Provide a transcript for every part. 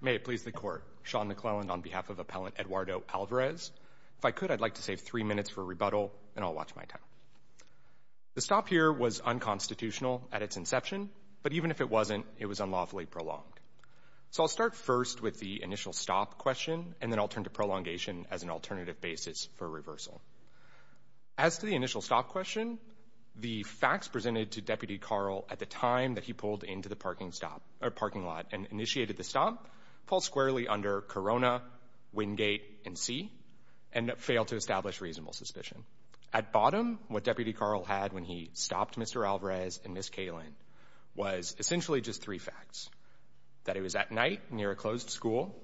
May it please the Court, Sean McClelland on behalf of Appellant Eduardo Alvarez. If I could, I'd like to save three minutes for rebuttal, and I'll watch my time. The stop here was unconstitutional at its inception, but even if it wasn't, it was unlawfully prolonged. So I'll start first with the initial stop question, and then I'll turn to prolongation as an alternative basis for reversal. As to the initial stop question, the facts presented to Deputy Carl at the time that he pulled into the parking lot and initiated the stop fall squarely under Corona, Wingate, and C, and fail to establish reasonable suspicion. At bottom, what Deputy Carl had when he stopped Mr. Alvarez and Ms. Kalin was essentially just three facts, that it was at night near a closed school,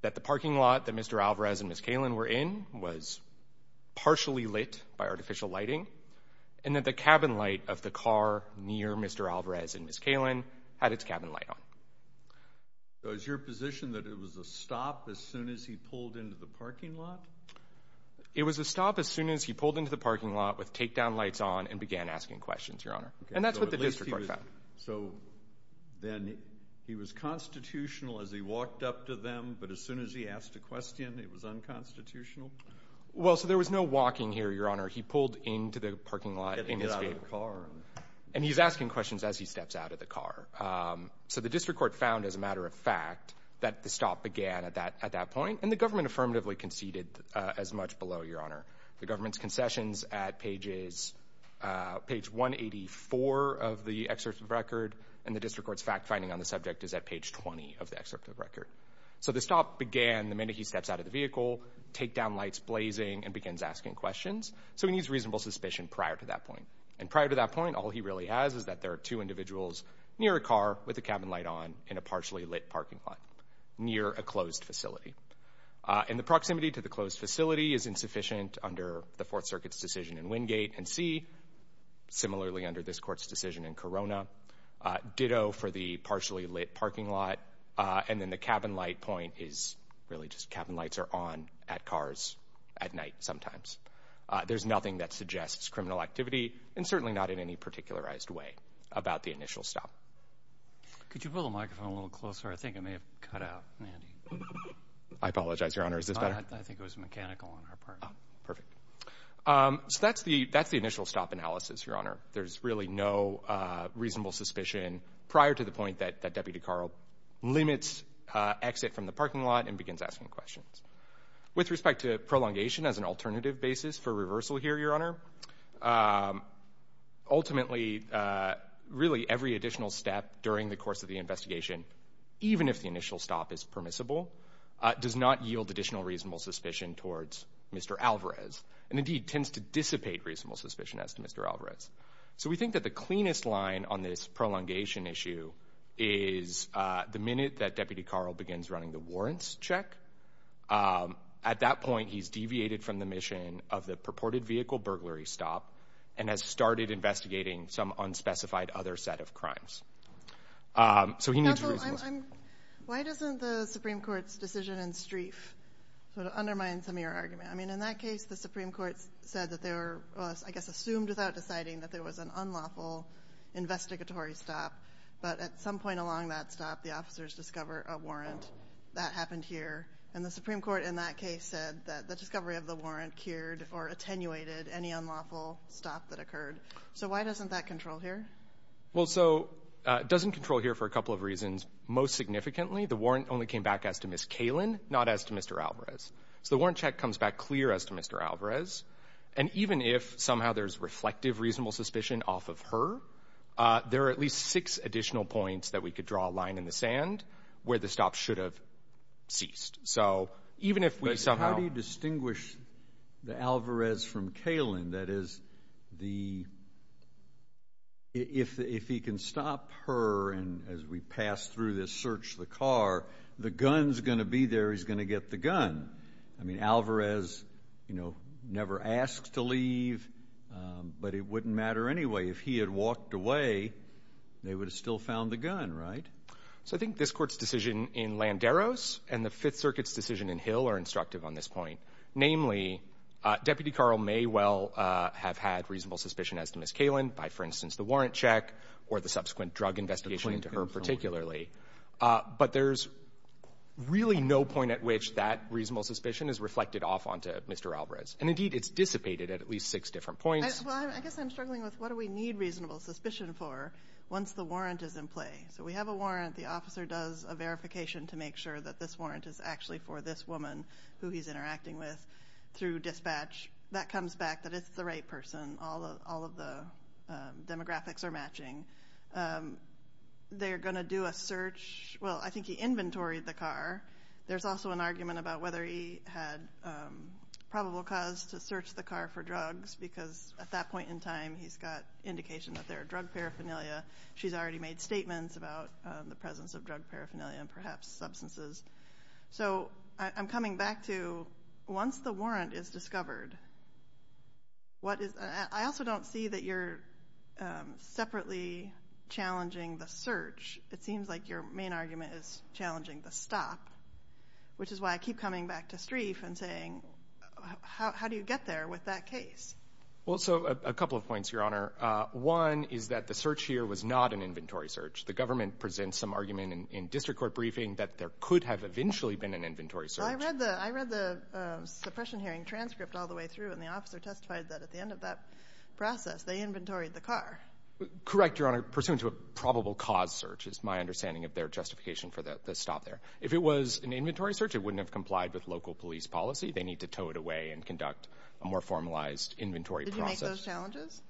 that the parking lot that Mr. Alvarez and Ms. Kalin were in was partially lit by artificial lighting, and that the cabin light of the car near Mr. Alvarez and Ms. Kalin had its cabin light on. So is your position that it was a stop as soon as he pulled into the parking lot? It was a stop as soon as he pulled into the parking lot with takedown lights on and began asking questions, Your Honor. And that's what the district court found. So then he was constitutional as he walked up to them, but as soon as he asked a question, it was unconstitutional? Well, so there was no walking here, Your Honor. He pulled into the parking lot in his vehicle. Getting out of the car. And he's asking questions as he steps out of the car. So the district court found, as a matter of fact, that the stop began at that point, the government's concessions at page 184 of the excerpt of the record, and the district court's fact-finding on the subject is at page 20 of the excerpt of the record. So the stop began the minute he steps out of the vehicle, takedown lights blazing, and begins asking questions. So he needs reasonable suspicion prior to that point. And prior to that point, all he really has is that there are two individuals near a car with the cabin light on in a partially lit parking lot near a closed facility. And the proximity to the closed facility is insufficient under the Fourth Circuit's decision in Wingate and C, similarly under this Court's decision in Corona. Ditto for the partially lit parking lot. And then the cabin light point is really just cabin lights are on at cars at night sometimes. There's nothing that suggests criminal activity, and certainly not in any particularized way, about the initial stop. Could you pull the microphone a little closer? I think I may have cut out. I apologize, Your Honor. Is this better? I think it was mechanical on our part. Perfect. So that's the initial stop analysis, Your Honor. There's really no reasonable suspicion prior to the point that Deputy Carl limits exit from the parking lot and begins asking questions. With respect to prolongation as an alternative basis for reversal here, Your Honor, ultimately, really every additional step during the course of the investigation, even if the initial stop is permissible, does not yield additional reasonable suspicion towards Mr. Alvarez, and indeed tends to dissipate reasonable suspicion as to Mr. Alvarez. So we think that the cleanest line on this prolongation issue is the minute that Deputy Carl begins running the warrants check. At that point, he's deviated from the mission of the purported vehicle burglary stop and has started investigating some unspecified other set of crimes. Counsel, why doesn't the Supreme Court's decision in Streiff sort of undermine some of your argument? I mean, in that case, the Supreme Court said that they were, I guess, assumed without deciding that there was an unlawful investigatory stop. But at some point along that stop, the officers discover a warrant. That happened here. And the Supreme Court in that case said that the discovery of the warrant cured or attenuated any unlawful stop that occurred. So why doesn't that control here? Well, so it doesn't control here for a couple of reasons. Most significantly, the warrant only came back as to Ms. Kalin, not as to Mr. Alvarez. So the warrant check comes back clear as to Mr. Alvarez. And even if somehow there's reflective reasonable suspicion off of her, there are at least six additional points that we could draw a line in the sand where the stop should have ceased. So even if we somehow— But how do you distinguish the Alvarez from Kalin? That is, if he can stop her and, as we pass through this, search the car, the gun's going to be there, he's going to get the gun. I mean, Alvarez never asked to leave, but it wouldn't matter anyway. If he had walked away, they would have still found the gun, right? So I think this Court's decision in Landeros and the Fifth Circuit's decision in Hill are instructive on this point. Namely, Deputy Carl may well have had reasonable suspicion as to Ms. Kalin by, for instance, the warrant check or the subsequent drug investigation into her particularly. But there's really no point at which that reasonable suspicion is reflected off onto Mr. Alvarez. And, indeed, it's dissipated at at least six different points. Well, I guess I'm struggling with what do we need reasonable suspicion for once the warrant is in play? So we have a warrant. The officer does a verification to make sure that this warrant is actually for this woman, who he's interacting with through dispatch. That comes back that it's the right person. All of the demographics are matching. They're going to do a search—well, I think he inventoried the car. There's also an argument about whether he had probable cause to search the car for drugs because at that point in time he's got indication that they're drug paraphernalia. She's already made statements about the presence of drug paraphernalia and perhaps substances. So I'm coming back to once the warrant is discovered, what is— I also don't see that you're separately challenging the search. It seems like your main argument is challenging the stop, which is why I keep coming back to Streiff and saying, how do you get there with that case? Well, so a couple of points, Your Honor. One is that the search here was not an inventory search. The government presents some argument in district court briefing that there could have eventually been an inventory search. Well, I read the suppression hearing transcript all the way through, and the officer testified that at the end of that process they inventoried the car. Correct, Your Honor. Pursuant to a probable cause search is my understanding of their justification for the stop there. If it was an inventory search, it wouldn't have complied with local police policy. They need to tow it away and conduct a more formalized inventory process. Did you make those challenges?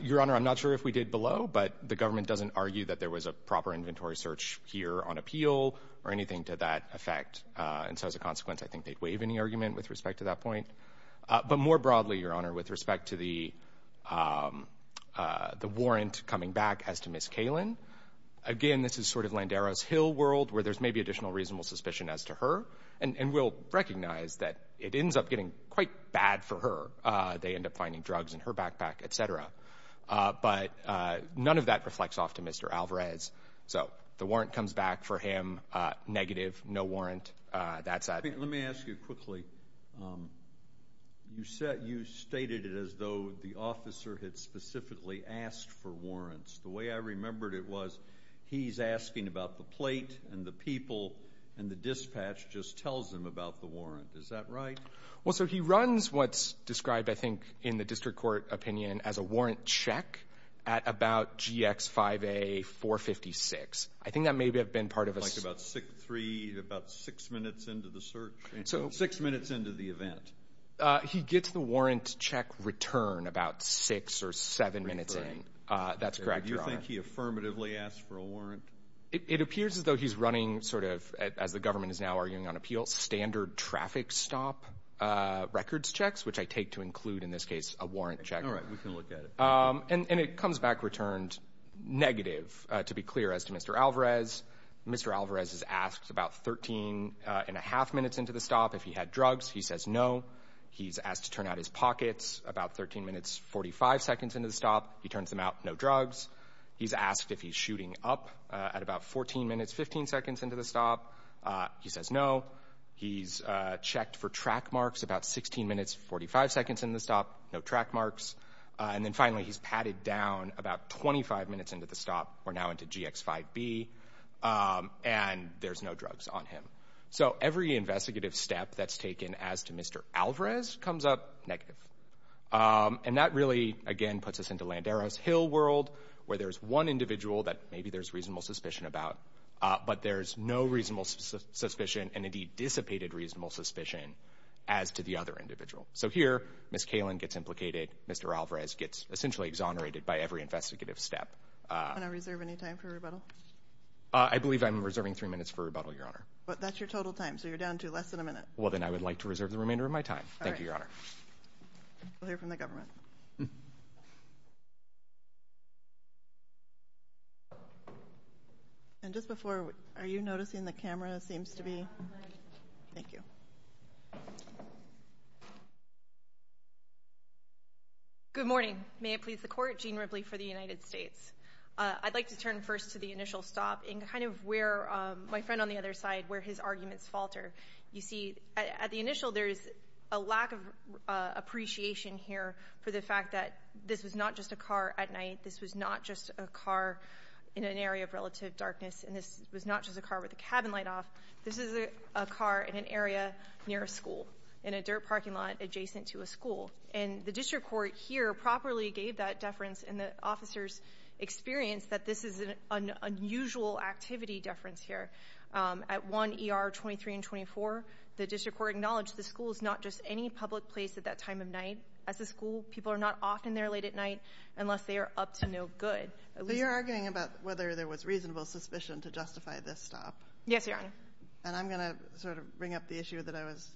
Your Honor, I'm not sure if we did below, but the government doesn't argue that there was a proper inventory search here on appeal or anything to that effect. And so as a consequence, I think they'd waive any argument with respect to that point. But more broadly, Your Honor, with respect to the warrant coming back as to Ms. Kalin, again, this is sort of Landero's Hill world where there's maybe additional reasonable suspicion as to her. And we'll recognize that it ends up getting quite bad for her. They end up finding drugs in her backpack, et cetera. But none of that reflects off to Mr. Alvarez. So the warrant comes back for him negative, no warrant. Let me ask you quickly. You stated it as though the officer had specifically asked for warrants. The way I remembered it was he's asking about the plate and the people and the dispatch just tells him about the warrant. Is that right? Well, sir, he runs what's described, I think, in the district court opinion, as a warrant check at about GX 5A 456. I think that may have been part of a search. Like about six minutes into the search? Six minutes into the event. He gets the warrant check return about six or seven minutes in. That's correct, Your Honor. Do you think he affirmatively asked for a warrant? It appears as though he's running sort of, as the government is now arguing on appeal, standard traffic stop records checks, which I take to include in this case a warrant check. All right. We can look at it. And it comes back returned negative, to be clear, as to Mr. Alvarez. Mr. Alvarez is asked about 13 and a half minutes into the stop if he had drugs. He says no. He's asked to turn out his pockets about 13 minutes 45 seconds into the stop. He turns them out. No drugs. He's asked if he's shooting up at about 14 minutes 15 seconds into the stop. He says no. He's checked for track marks about 16 minutes 45 seconds into the stop. No track marks. And then finally he's patted down about 25 minutes into the stop. We're now into GX 5B. And there's no drugs on him. So every investigative step that's taken as to Mr. Alvarez comes up negative. And that really, again, puts us into Landero's Hill world where there's one individual that maybe there's reasonable suspicion about, but there's no reasonable suspicion and, indeed, dissipated reasonable suspicion as to the other individual. So here Ms. Kalin gets implicated. Mr. Alvarez gets essentially exonerated by every investigative step. Can I reserve any time for rebuttal? I believe I'm reserving three minutes for rebuttal, Your Honor. But that's your total time, so you're down to less than a minute. Well, then I would like to reserve the remainder of my time. Thank you, Your Honor. We'll hear from the government. And just before, are you noticing the camera seems to be? Thank you. Good morning. May it please the Court. Jean Ripley for the United States. I'd like to turn first to the initial stop and kind of where my friend on the other side, where his arguments falter. You see, at the initial, there is a lack of appreciation here for the fact that this was not just a car at night, this was not just a car in an area of relative darkness, and this was not just a car with a cabin light off. This is a car in an area near a school, in a dirt parking lot adjacent to a school. And the district court here properly gave that deference, and the officers experienced that this is an unusual activity deference here. At 1 ER 23 and 24, the district court acknowledged the school is not just any public place at that time of night. As a school, people are not often there late at night unless they are up to no good. So you're arguing about whether there was reasonable suspicion to justify this stop? Yes, Your Honor. And I'm going to sort of bring up the issue that I was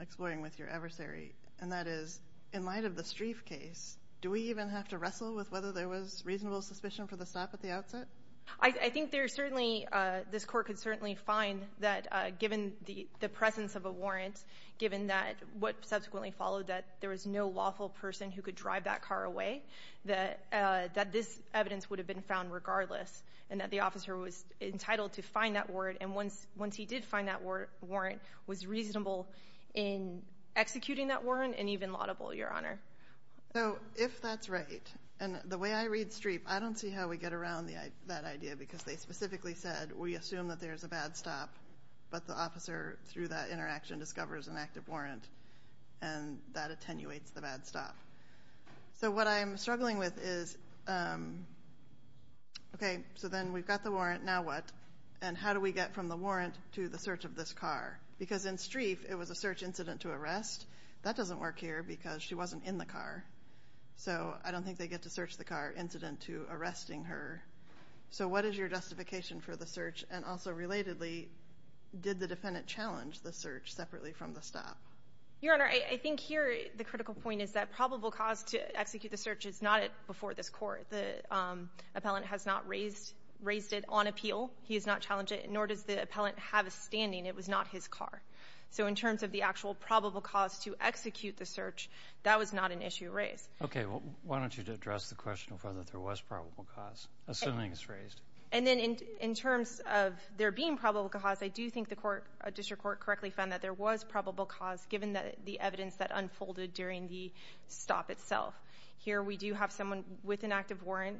exploring with your adversary, and that is, in light of the Streiff case, do we even have to wrestle with whether there was reasonable suspicion for the stop at the outset? I think there certainly — this Court could certainly find that given the presence of a warrant, given that what subsequently followed, that there was no lawful person who could drive that car away, that this evidence would have been found regardless, and that the officer was entitled to find that warrant. And once he did find that warrant, it was reasonable in executing that warrant and even laudable, Your Honor. So if that's right, and the way I read Streiff, I don't see how we get around that idea because they specifically said, we assume that there's a bad stop, but the officer, through that interaction, discovers an active warrant, and that attenuates the bad stop. So what I'm struggling with is, okay, so then we've got the warrant. Now what? And how do we get from the warrant to the search of this car? Because in Streiff, it was a search incident to arrest. That doesn't work here because she wasn't in the car. So I don't think they get to search the car incident to arresting her. So what is your justification for the search? And also, relatedly, did the defendant challenge the search separately from the stop? Your Honor, I think here the critical point is that probable cause to execute the search is not before this Court. The appellant has not raised it on appeal. He has not challenged it, nor does the appellant have a standing. It was not his car. So in terms of the actual probable cause to execute the search, that was not an issue raised. Okay, well, why don't you address the question of whether there was probable cause, assuming it's raised. And then in terms of there being probable cause, I do think the District Court correctly found that there was probable cause, given the evidence that unfolded during the stop itself. Here we do have someone with an active warrant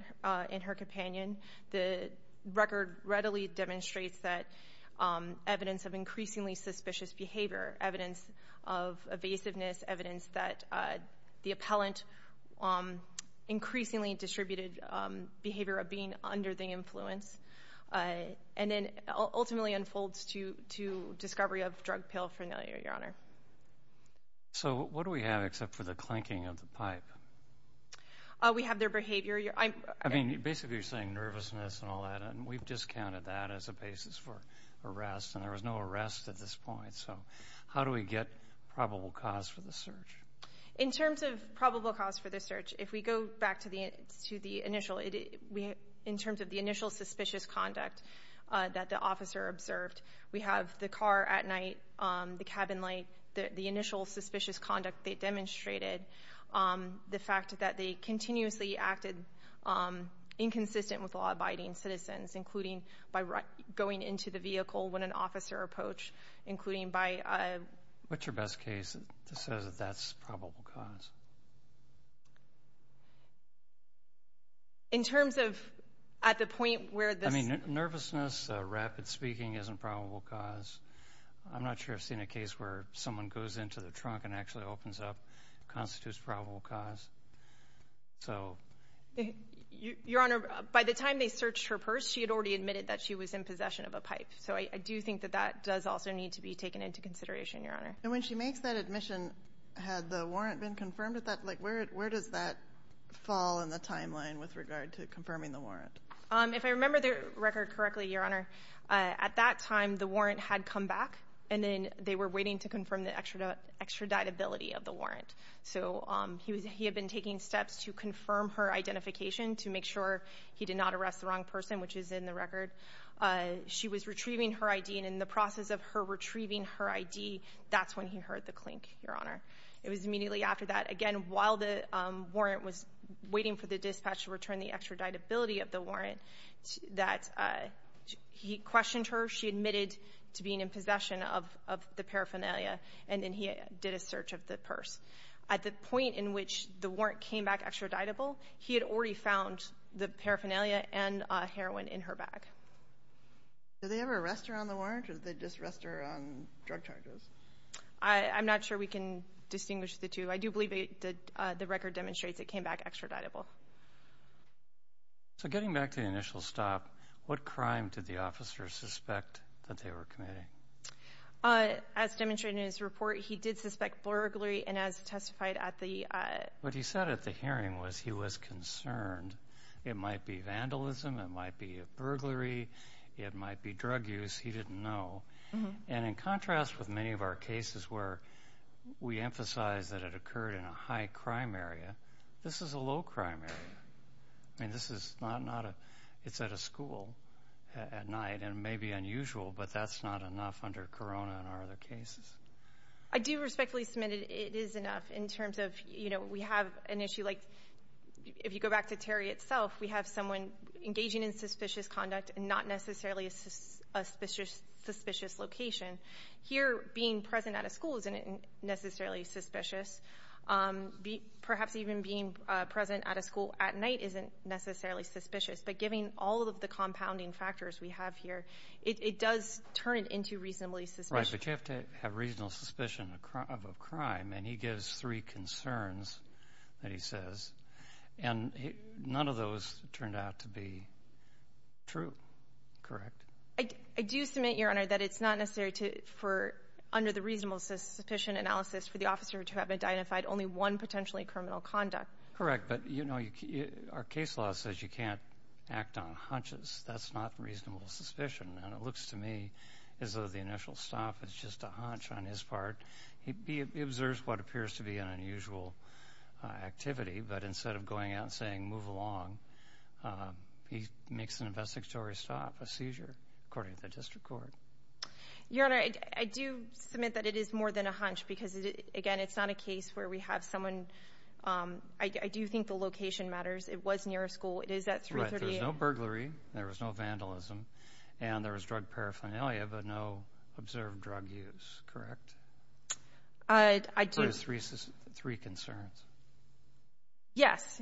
in her companion. The record readily demonstrates that evidence of increasingly suspicious behavior, evidence of evasiveness, evidence that the appellant increasingly distributed behavior of being under the influence, and then ultimately unfolds to discovery of drug pill familiarity, Your Honor. So what do we have except for the clanking of the pipe? We have their behavior. I mean, basically you're saying nervousness and all that, and we've discounted that as a basis for arrest, and there was no arrest at this point. So how do we get probable cause for the search? In terms of probable cause for the search, if we go back to the initial, in terms of the initial suspicious conduct that the officer observed, we have the car at night, the cabin light, the initial suspicious conduct they demonstrated, the fact that they continuously acted inconsistent with law-abiding citizens, including by going into the vehicle when an officer approached, including by ---- What's your best case that says that that's probable cause? In terms of at the point where this ---- I mean, nervousness, rapid speaking, isn't probable cause. I'm not sure I've seen a case where someone goes into the trunk and actually opens up constitutes probable cause. So ---- Your Honor, by the time they searched her purse, she had already admitted that she was in possession of a pipe. So I do think that that does also need to be taken into consideration, Your Honor. And when she makes that admission, had the warrant been confirmed at that ---- like, where does that fall in the timeline with regard to confirming the warrant? If I remember the record correctly, Your Honor, at that time the warrant had come back, and then they were waiting to confirm the extraditability of the warrant. So he had been taking steps to confirm her identification to make sure he did not arrest the wrong person, which is in the record. She was retrieving her ID, and in the process of her retrieving her ID, that's when he heard the clink, Your Honor. It was immediately after that, again, while the warrant was waiting for the dispatch to return the extraditability of the warrant, that he questioned her. She admitted to being in possession of the paraphernalia, and then he did a search of the purse. At the point in which the warrant came back extraditable, he had already found the paraphernalia and heroin in her bag. Did they ever arrest her on the warrant, or did they just arrest her on drug charges? I'm not sure we can distinguish the two. I do believe the record demonstrates it came back extraditable. So getting back to the initial stop, what crime did the officer suspect that they were committing? As demonstrated in his report, he did suspect burglary, and as testified at the— What he said at the hearing was he was concerned. It might be vandalism. It might be a burglary. It might be drug use. He didn't know. And in contrast with many of our cases where we emphasize that it occurred in a high-crime area, this is a low-crime area. I mean, this is not a— It's at a school at night, and it may be unusual, but that's not enough under corona in our other cases. I do respectfully submit it is enough in terms of, you know, we have an issue like— If you go back to Terry itself, we have someone engaging in suspicious conduct in not necessarily a suspicious location. Here, being present at a school isn't necessarily suspicious. Perhaps even being present at a school at night isn't necessarily suspicious, but given all of the compounding factors we have here, it does turn it into reasonably suspicious. Right, but you have to have reasonable suspicion of crime, and he gives three concerns that he says, and none of those turned out to be true, correct? I do submit, Your Honor, that it's not necessary to— Correct, but, you know, our case law says you can't act on hunches. That's not reasonable suspicion, and it looks to me as though the initial stop is just a hunch on his part. He observes what appears to be an unusual activity, but instead of going out and saying, move along, he makes an investigatory stop, a seizure, according to the district court. Your Honor, I do submit that it is more than a hunch because, again, it's not a case where we have someone—I do think the location matters. It was near a school. It is at 338— Right, there was no burglary. There was no vandalism, and there was drug paraphernalia, but no observed drug use, correct? I do— Those three concerns. Yes,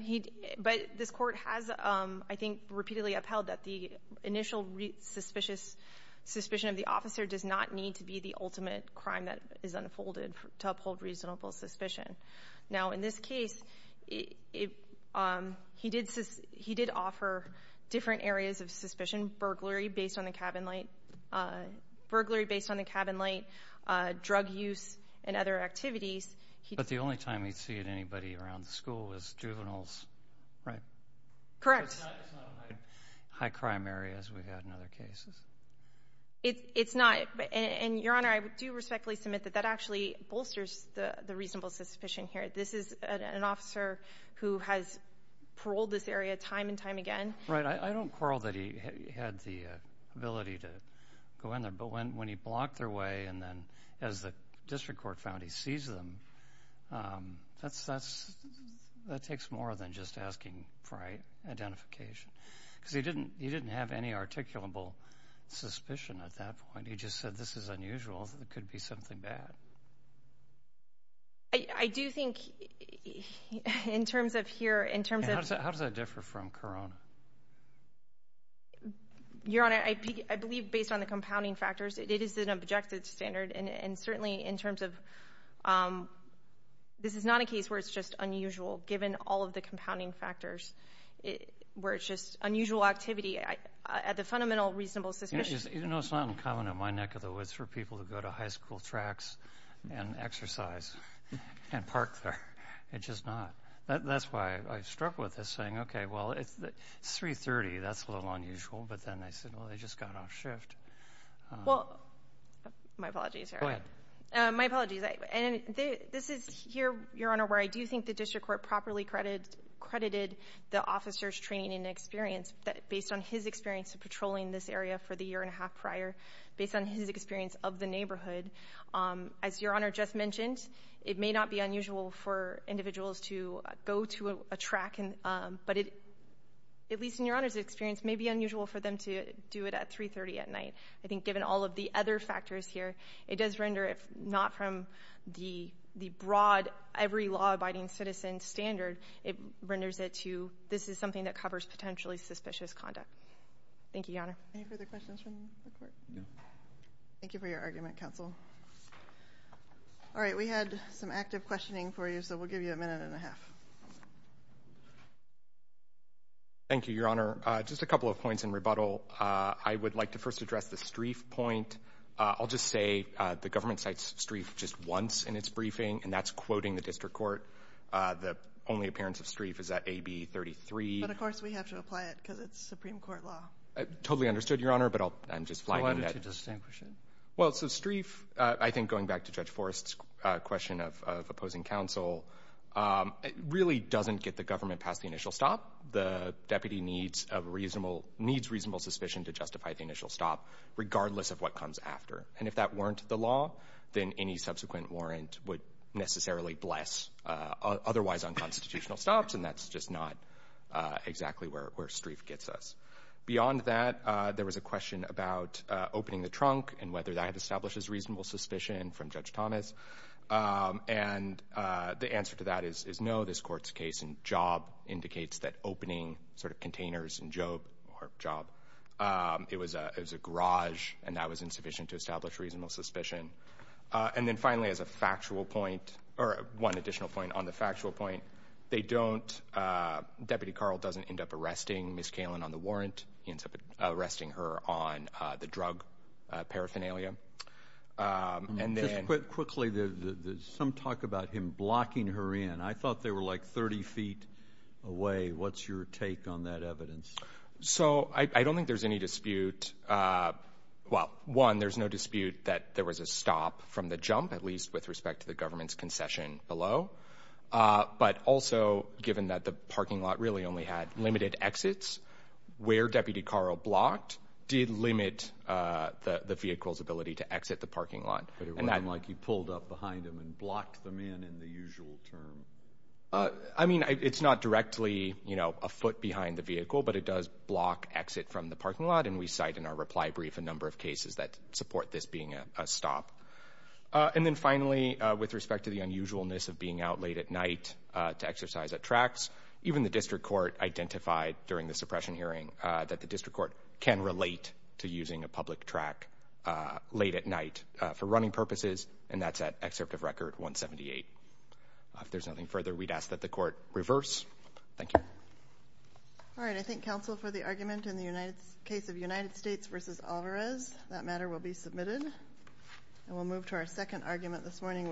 but this court has, I think, repeatedly upheld that the initial suspicion of the officer does not need to be the ultimate crime that is unfolded to uphold reasonable suspicion. Now, in this case, he did offer different areas of suspicion, burglary based on the cabin light, drug use, and other activities. But the only time he'd see anybody around the school was juveniles, right? Correct. So it's not high-crime areas we've had in other cases? It's not. And, Your Honor, I do respectfully submit that that actually bolsters the reasonable suspicion here. This is an officer who has paroled this area time and time again. Right. I don't quarrel that he had the ability to go in there, but when he blocked their way and then, as the district court found, he seized them, that takes more than just asking for identification because he didn't have any articulable suspicion at that point. He just said, This is unusual. It could be something bad. I do think, in terms of here, in terms of— How does that differ from Corona? Your Honor, I believe, based on the compounding factors, it is an objective standard, and certainly in terms of—this is not a case where it's just unusual, given all of the compounding factors, where it's just unusual activity. At the fundamental reasonable suspicion— You know, it's not uncommon in my neck of the woods for people to go to high school tracks and exercise and park there. It's just not. That's why I struck with this thing. Okay, well, it's 3.30. That's a little unusual. But then they said, Well, they just got off shift. Well, my apologies, Your Honor. Go ahead. My apologies. This is here, Your Honor, where I do think the district court properly credited the officer's training and experience, based on his experience of patrolling this area for the year and a half prior, based on his experience of the neighborhood. As Your Honor just mentioned, it may not be unusual for individuals to go to a track, but it, at least in Your Honor's experience, may be unusual for them to do it at 3.30 at night. I think given all of the other factors here, it does render, if not from the broad every law-abiding citizen standard, it renders it to this is something that covers potentially suspicious conduct. Thank you, Your Honor. Any further questions from the court? No. Thank you for your argument, counsel. All right, we had some active questioning for you, so we'll give you a minute and a half. Thank you, Your Honor. Just a couple of points in rebuttal. I would like to first address the streaf point. I'll just say the government cites streaf just once in its briefing, and that's quoting the district court. The only appearance of streaf is at AB 33. But, of course, we have to apply it because it's Supreme Court law. Totally understood, Your Honor, but I'm just flagging that. Why would you distinguish it? Well, so streaf, I think going back to Judge Forrest's question of opposing counsel, really doesn't get the government past the initial stop. The deputy needs reasonable suspicion to justify the initial stop, regardless of what comes after. And if that weren't the law, then any subsequent warrant would necessarily bless otherwise unconstitutional stops, and that's just not exactly where streaf gets us. Beyond that, there was a question about opening the trunk and whether that establishes reasonable suspicion from Judge Thomas. And the answer to that is no. This court's case in Job indicates that opening sort of containers in Job, it was a garage, and that was insufficient to establish reasonable suspicion. And then finally, as a factual point, or one additional point on the factual point, they don't, Deputy Carl doesn't end up arresting Ms. Kalin on the warrant. He ends up arresting her on the drug paraphernalia. Just quickly, some talk about him blocking her in. I thought they were like 30 feet away. What's your take on that evidence? So I don't think there's any dispute. Well, one, there's no dispute that there was a stop from the jump, at least with respect to the government's concession below. But also, given that the parking lot really only had limited exits, where Deputy Carl blocked did limit the vehicle's ability to exit the parking lot. But it wasn't like he pulled up behind him and blocked them in in the usual term. I mean, it's not directly, you know, a foot behind the vehicle, but it does block exit from the parking lot, and we cite in our reply brief a number of cases that support this being a stop. And then finally, with respect to the unusualness of being out late at night to exercise at tracks, even the district court identified during the suppression hearing that the district court can relate to using a public track late at night for running purposes, and that's at Excerpt of Record 178. If there's nothing further, we'd ask that the court reverse. Thank you. All right. I thank counsel for the argument in the case of United States v. Alvarez. That matter will be submitted. And we'll move to our second argument this morning,